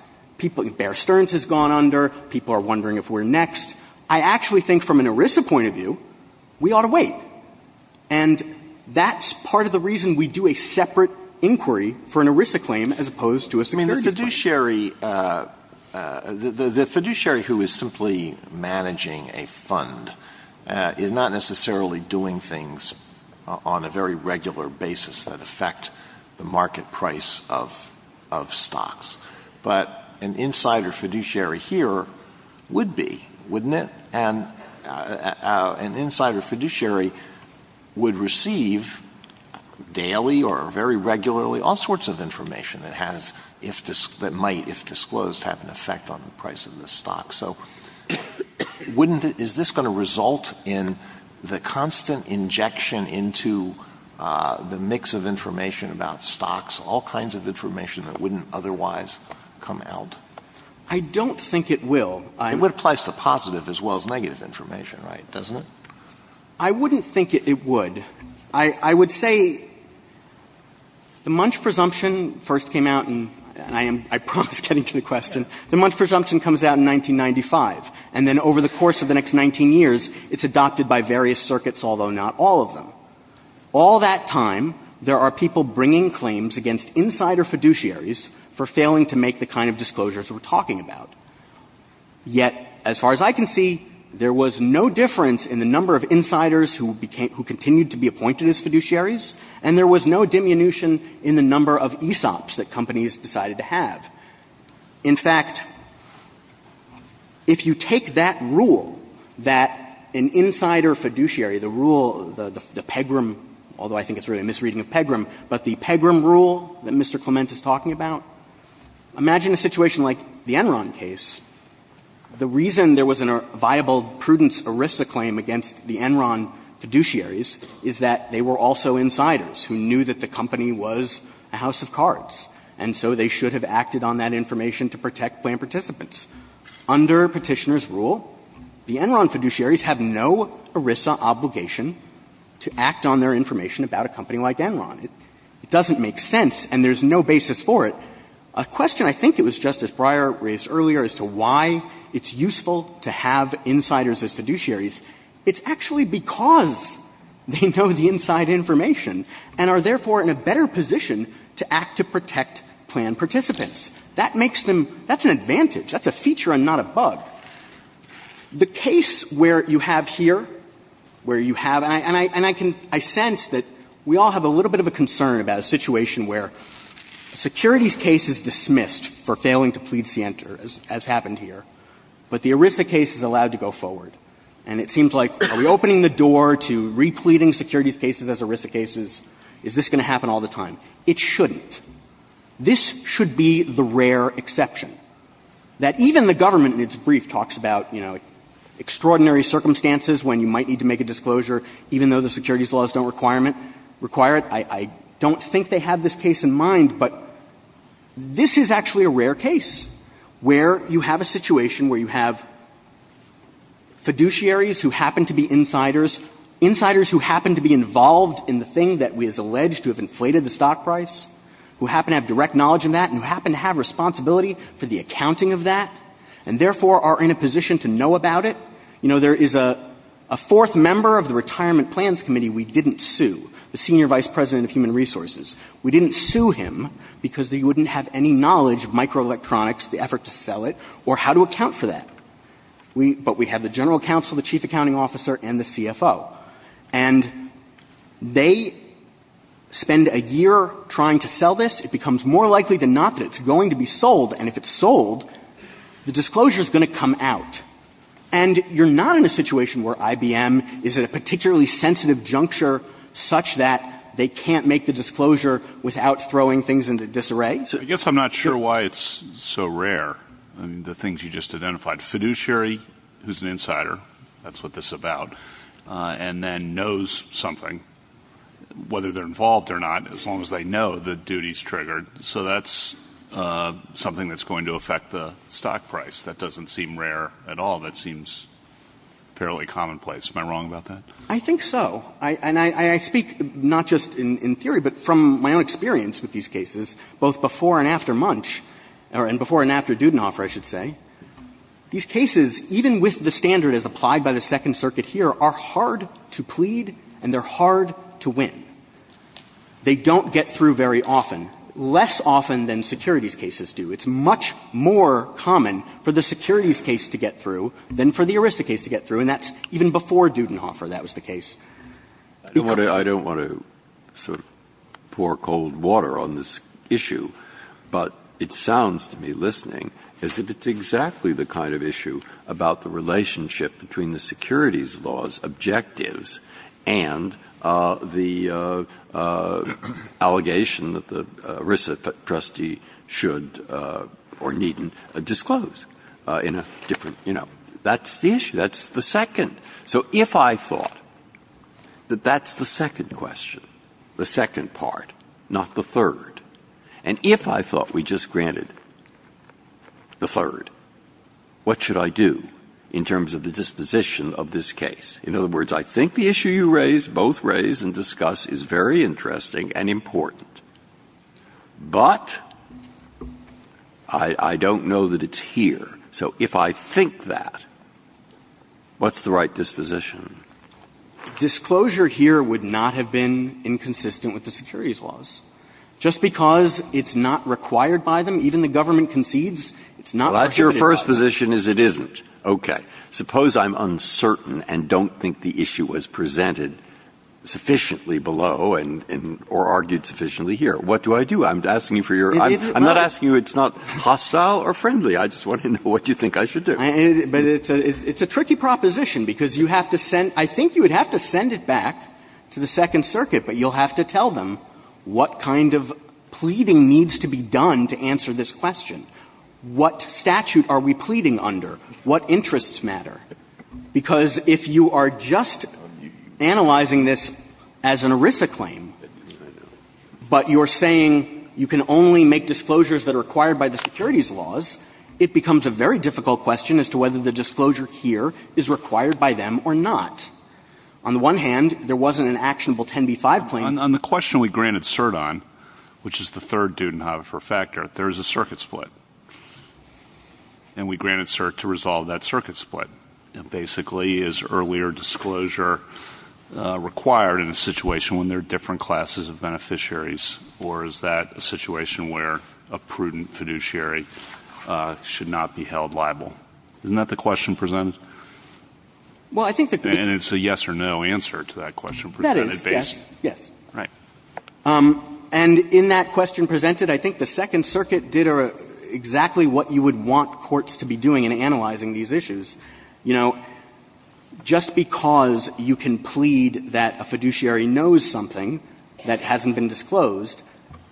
Bear Stearns has gone under. People are wondering if we're next. I actually think from an ERISA point of view, we ought to wait. And that's part of the reason we do a separate inquiry for an ERISA claim as opposed to a securities claim. I mean, the fiduciary, the fiduciary who is simply managing a fund is not necessarily doing things on a very regular basis that affect the market price of stocks. But an insider fiduciary here would be, wouldn't it? And an insider fiduciary would receive daily or very regularly all sorts of information that has, that might, if disclosed, have an effect on the price of the stock. So wouldn't it, is this going to result in the constant injection into the mix of information about stocks, all kinds of information that wouldn't otherwise come out? I don't think it will. It would apply to positive as well as negative information, right, doesn't it? I wouldn't think it would. I would say the Munch presumption first came out, and I am, I promise, getting to the question. The Munch presumption comes out in 1995. And then over the course of the next 19 years, it's adopted by various circuits, although not all of them. All that time, there are people bringing claims against insider fiduciaries for failing to make the kind of disclosures we are talking about. Yet, as far as I can see, there was no difference in the number of insiders who continued to be appointed as fiduciaries, and there was no diminution in the number of ESOPs that companies decided to have. In fact, if you take that rule, that an insider fiduciary, the rule, the Pegram rule, although I think it's really a misreading of Pegram, but the Pegram rule that Mr. Clement is talking about, imagine a situation like the Enron case. The reason there was a viable prudence ERISA claim against the Enron fiduciaries is that they were also insiders who knew that the company was a house of cards. And so they should have acted on that information to protect plan participants. Under Petitioner's rule, the Enron fiduciaries have no ERISA obligation to act on their information about a company like Enron. It doesn't make sense, and there's no basis for it. A question I think it was Justice Breyer raised earlier as to why it's useful to have fiduciaries who know the inside information and are therefore in a better position to act to protect plan participants. That makes them, that's an advantage. That's a feature and not a bug. The case where you have here, where you have, and I can, I sense that we all have a little bit of a concern about a situation where securities case is dismissed for failing to plead scienter, as happened here, but the ERISA case is allowed to go forward. And it seems like, are we opening the door to repleting securities cases as ERISA cases? Is this going to happen all the time? It shouldn't. This should be the rare exception that even the government in its brief talks about, you know, extraordinary circumstances when you might need to make a disclosure even though the securities laws don't require it. I don't think they have this case in mind, but this is actually a rare case where you have a situation where you have fiduciaries who happen to be insiders, insiders who happen to be involved in the thing that we have alleged to have inflated the stock price, who happen to have direct knowledge in that and who happen to have responsibility for the accounting of that and therefore are in a position to know about it. You know, there is a fourth member of the Retirement Plans Committee we didn't sue, the Senior Vice President of Human Resources. We didn't sue him because they wouldn't have any knowledge of microelectronics, the effort to sell it, or how to account for that. But we have the general counsel, the chief accounting officer, and the CFO. And they spend a year trying to sell this. It becomes more likely than not that it's going to be sold. And if it's sold, the disclosure is going to come out. And you're not in a situation where IBM is at a particularly sensitive juncture such that they can't make the disclosure without throwing things into disarray. I guess I'm not sure why it's so rare. I mean, the things you just identified. Fiduciary, who's an insider, that's what this is about, and then knows something. Whether they're involved or not, as long as they know, the duty is triggered. So that's something that's going to affect the stock price. That doesn't seem rare at all. That seems fairly commonplace. Am I wrong about that? I think so. And I speak not just in theory, but from my own experience with these cases, both before and after Munch, or before and after Dudenhofer, I should say. These cases, even with the standard as applied by the Second Circuit here, are hard to plead and they're hard to win. They don't get through very often, less often than securities cases do. It's much more common for the securities case to get through than for the ERISA case to get through, and that's even before Dudenhofer that was the case. I don't want to sort of pour cold water on this issue, but it sounds to me, listening, as if it's exactly the kind of issue about the relationship between the securities laws' objectives and the allegation that the ERISA trustee should or needn't disclose in a different, you know. That's the issue. That's the second. So if I thought that that's the second question, the second part, not the third, and if I thought we just granted the third, what should I do in terms of the disposition of this case? In other words, I think the issue you raise, both raise and discuss, is very interesting and important, but I don't know that it's here. So if I think that, what's the right disposition? Disclosure here would not have been inconsistent with the securities laws. Just because it's not required by them, even the government concedes, it's not prohibited by them. Well, that's your first position is it isn't. Okay. Suppose I'm uncertain and don't think the issue was presented sufficiently below or argued sufficiently here. What do I do? I'm asking you for your – I'm not asking you it's not hostile or friendly. I just want to know what you think I should do. But it's a tricky proposition, because you have to send – I think you would have to send it back to the Second Circuit, but you'll have to tell them what kind of pleading needs to be done to answer this question. What statute are we pleading under? What interests matter? Because if you are just analyzing this as an ERISA claim, but you're saying you can only make disclosures that are required by the securities laws, it becomes a very difficult question as to whether the disclosure here is required by them or not. On the one hand, there wasn't an actionable 10b-5 claim. On the question we granted cert on, which is the third Dudenhofer factor, there is a circuit split, and we granted cert to resolve that circuit split. Basically, is earlier disclosure required in a situation when there are different classes of beneficiaries, or is that a situation where a prudent fiduciary should not be held liable? Isn't that the question presented? And it's a yes or no answer to that question. That is, yes. Yes. Right. And in that question presented, I think the Second Circuit did exactly what you would want courts to be doing in analyzing these issues. You know, just because you can plead that a fiduciary knows something that hasn't been disclosed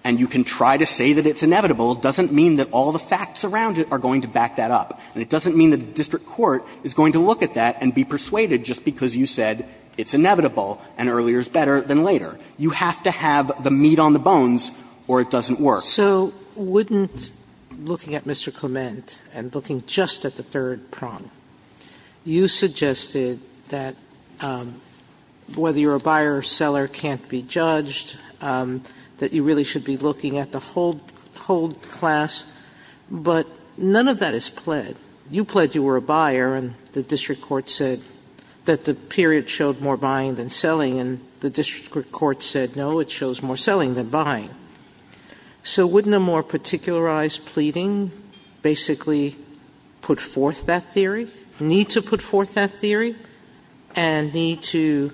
and you can try to say that it's inevitable doesn't mean that all the facts around it are going to back that up. And it doesn't mean that the district court is going to look at that and be persuaded just because you said it's inevitable and earlier is better than later. You have to have the meat on the bones or it doesn't work. Sotomayor So wouldn't looking at Mr. Clement and looking just at the third prong, you suggested that whether you're a buyer or seller can't be judged, that you really should be looking at the whole class. But none of that is pled. You pled you were a buyer and the district court said that the period showed more buying than selling, and the district court said, no, it shows more selling than buying. So wouldn't a more particularized pleading basically put forth that theory, need to put forth that theory, and need to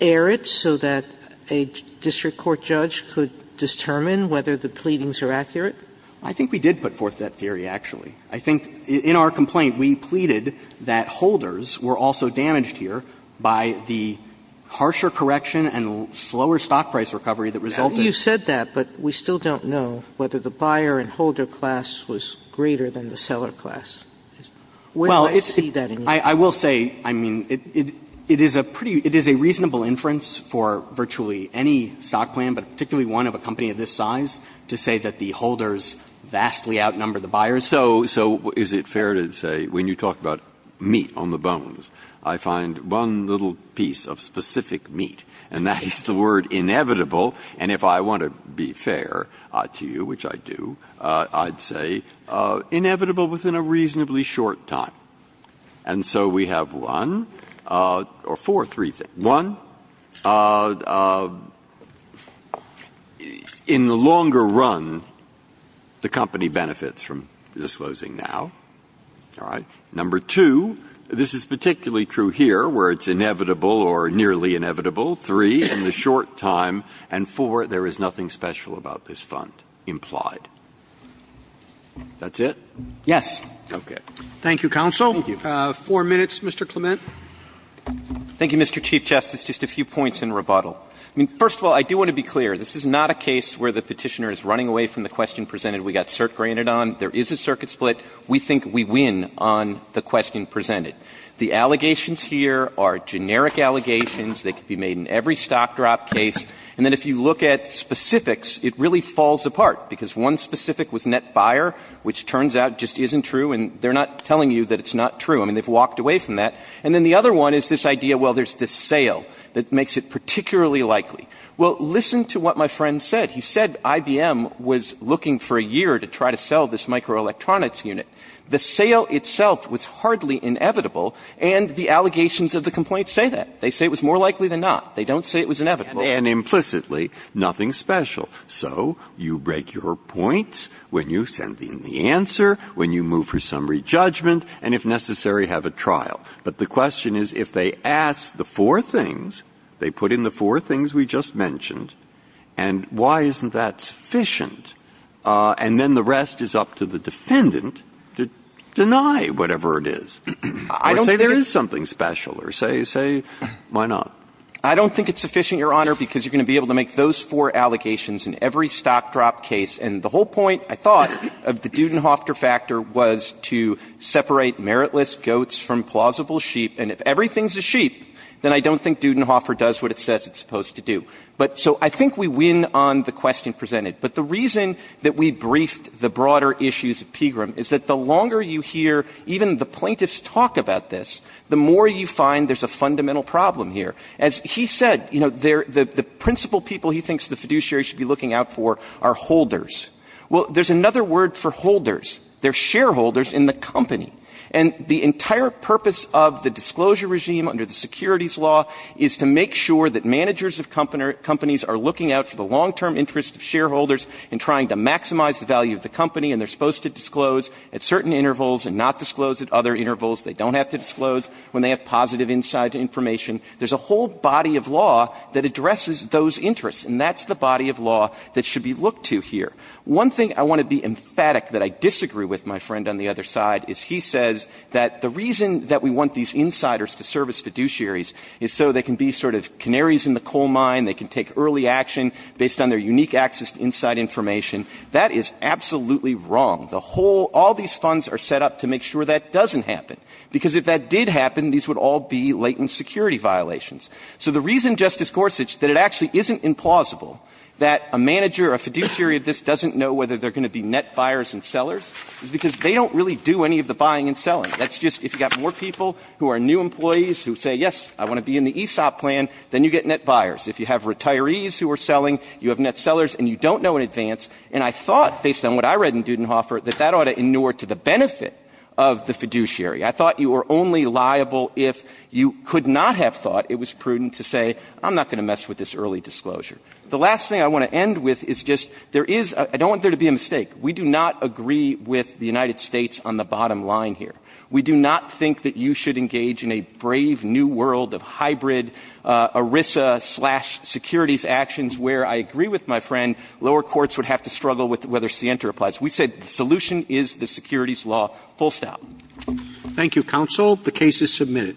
air it so that a district court judge could determine whether the pleadings are accurate? I think we did put forth that theory, actually. I think in our complaint we pleaded that holders were also damaged here by the harsher correction and slower stock price recovery that resulted. Sotomayor But you said that, but we still don't know whether the buyer and holder class was greater than the seller class. Where do I see that? Breyer I will say, I mean, it is a reasonable inference for virtually any stock plan, but particularly one of a company of this size, to say that the holders vastly outnumber the buyers. Breyer So is it fair to say when you talk about meat on the bones, I find one little piece of specific meat, and that is the word inevitable, and if I want to be fair to you, which I do, I'd say inevitable within a reasonably short time. And so we have one, or four, three things. One, in the longer run, the company benefits from disclosing now. All right? Number two, this is particularly true here where it's inevitable or nearly inevitable. Three, in the short time. And four, there is nothing special about this fund implied. That's it? Clement Yes. Breyer Okay. Roberts Thank you, counsel. Four minutes, Mr. Clement. Clement Thank you, Mr. Chief Justice. Just a few points in rebuttal. I mean, first of all, I do want to be clear. This is not a case where the Petitioner is running away from the question presented we got cert granted on. There is a circuit split. We think we win on the question presented. The allegations here are generic allegations. They could be made in every stock drop case. And then if you look at specifics, it really falls apart because one specific was net buyer, which turns out just isn't true, and they're not telling you that it's not true. I mean, they've walked away from that. And then the other one is this idea, well, there's this sale that makes it particularly likely. Well, listen to what my friend said. He said IBM was looking for a year to try to sell this microelectronics unit. The sale itself was hardly inevitable, and the allegations of the complaint say that. They say it was more likely than not. They don't say it was inevitable. Breyer And implicitly, nothing special. So you break your points when you send in the answer, when you move for summary judgment, and if necessary, have a trial. But the question is if they ask the four things, they put in the four things we just mentioned, and why isn't that sufficient? And then the rest is up to the defendant to deny whatever it is or say there is something special or say, why not? Clement I don't think it's sufficient, Your Honor, because you're going to be able to make those four allegations in every stock drop case. And the whole point, I thought, of the Dudenhofter factor was to separate meritless goats from plausible sheep. And if everything's a sheep, then I don't think Dudenhofer does what it says it's going to do. So I think we win on the question presented. But the reason that we briefed the broader issues of Pegram is that the longer you hear even the plaintiffs talk about this, the more you find there's a fundamental problem here. As he said, you know, the principal people he thinks the fiduciary should be looking out for are holders. Well, there's another word for holders. They're shareholders in the company. And the entire purpose of the disclosure regime under the securities law is to make sure that managers of companies are looking out for the long-term interests of shareholders and trying to maximize the value of the company. And they're supposed to disclose at certain intervals and not disclose at other intervals. They don't have to disclose when they have positive inside information. There's a whole body of law that addresses those interests. And that's the body of law that should be looked to here. One thing I want to be emphatic that I disagree with my friend on the other side is he says that the reason that we want these insiders to serve as fiduciaries is so they can be sort of canaries in the coal mine, they can take early action based on their unique access to inside information. That is absolutely wrong. The whole – all these funds are set up to make sure that doesn't happen, because if that did happen, these would all be latent security violations. So the reason, Justice Gorsuch, that it actually isn't implausible that a manager or a fiduciary of this doesn't know whether they're going to be net buyers and sellers is because they don't really do any of the buying and selling. That's just – if you've got more people who are new employees who say, yes, I want to be in the ESOP plan, then you get net buyers. If you have retirees who are selling, you have net sellers, and you don't know in advance. And I thought, based on what I read in Dudenhofer, that that ought to inure to the benefit of the fiduciary. I thought you were only liable if you could not have thought it was prudent to say, I'm not going to mess with this early disclosure. The last thing I want to end with is just there is – I don't want there to be a mistake. We do not agree with the United States on the bottom line here. We do not think that you should engage in a brave new world of hybrid ERISA-slash- securities actions where, I agree with my friend, lower courts would have to struggle with whether scienter applies. We say the solution is the securities law, full stop. Roberts. Thank you, counsel. The case is submitted.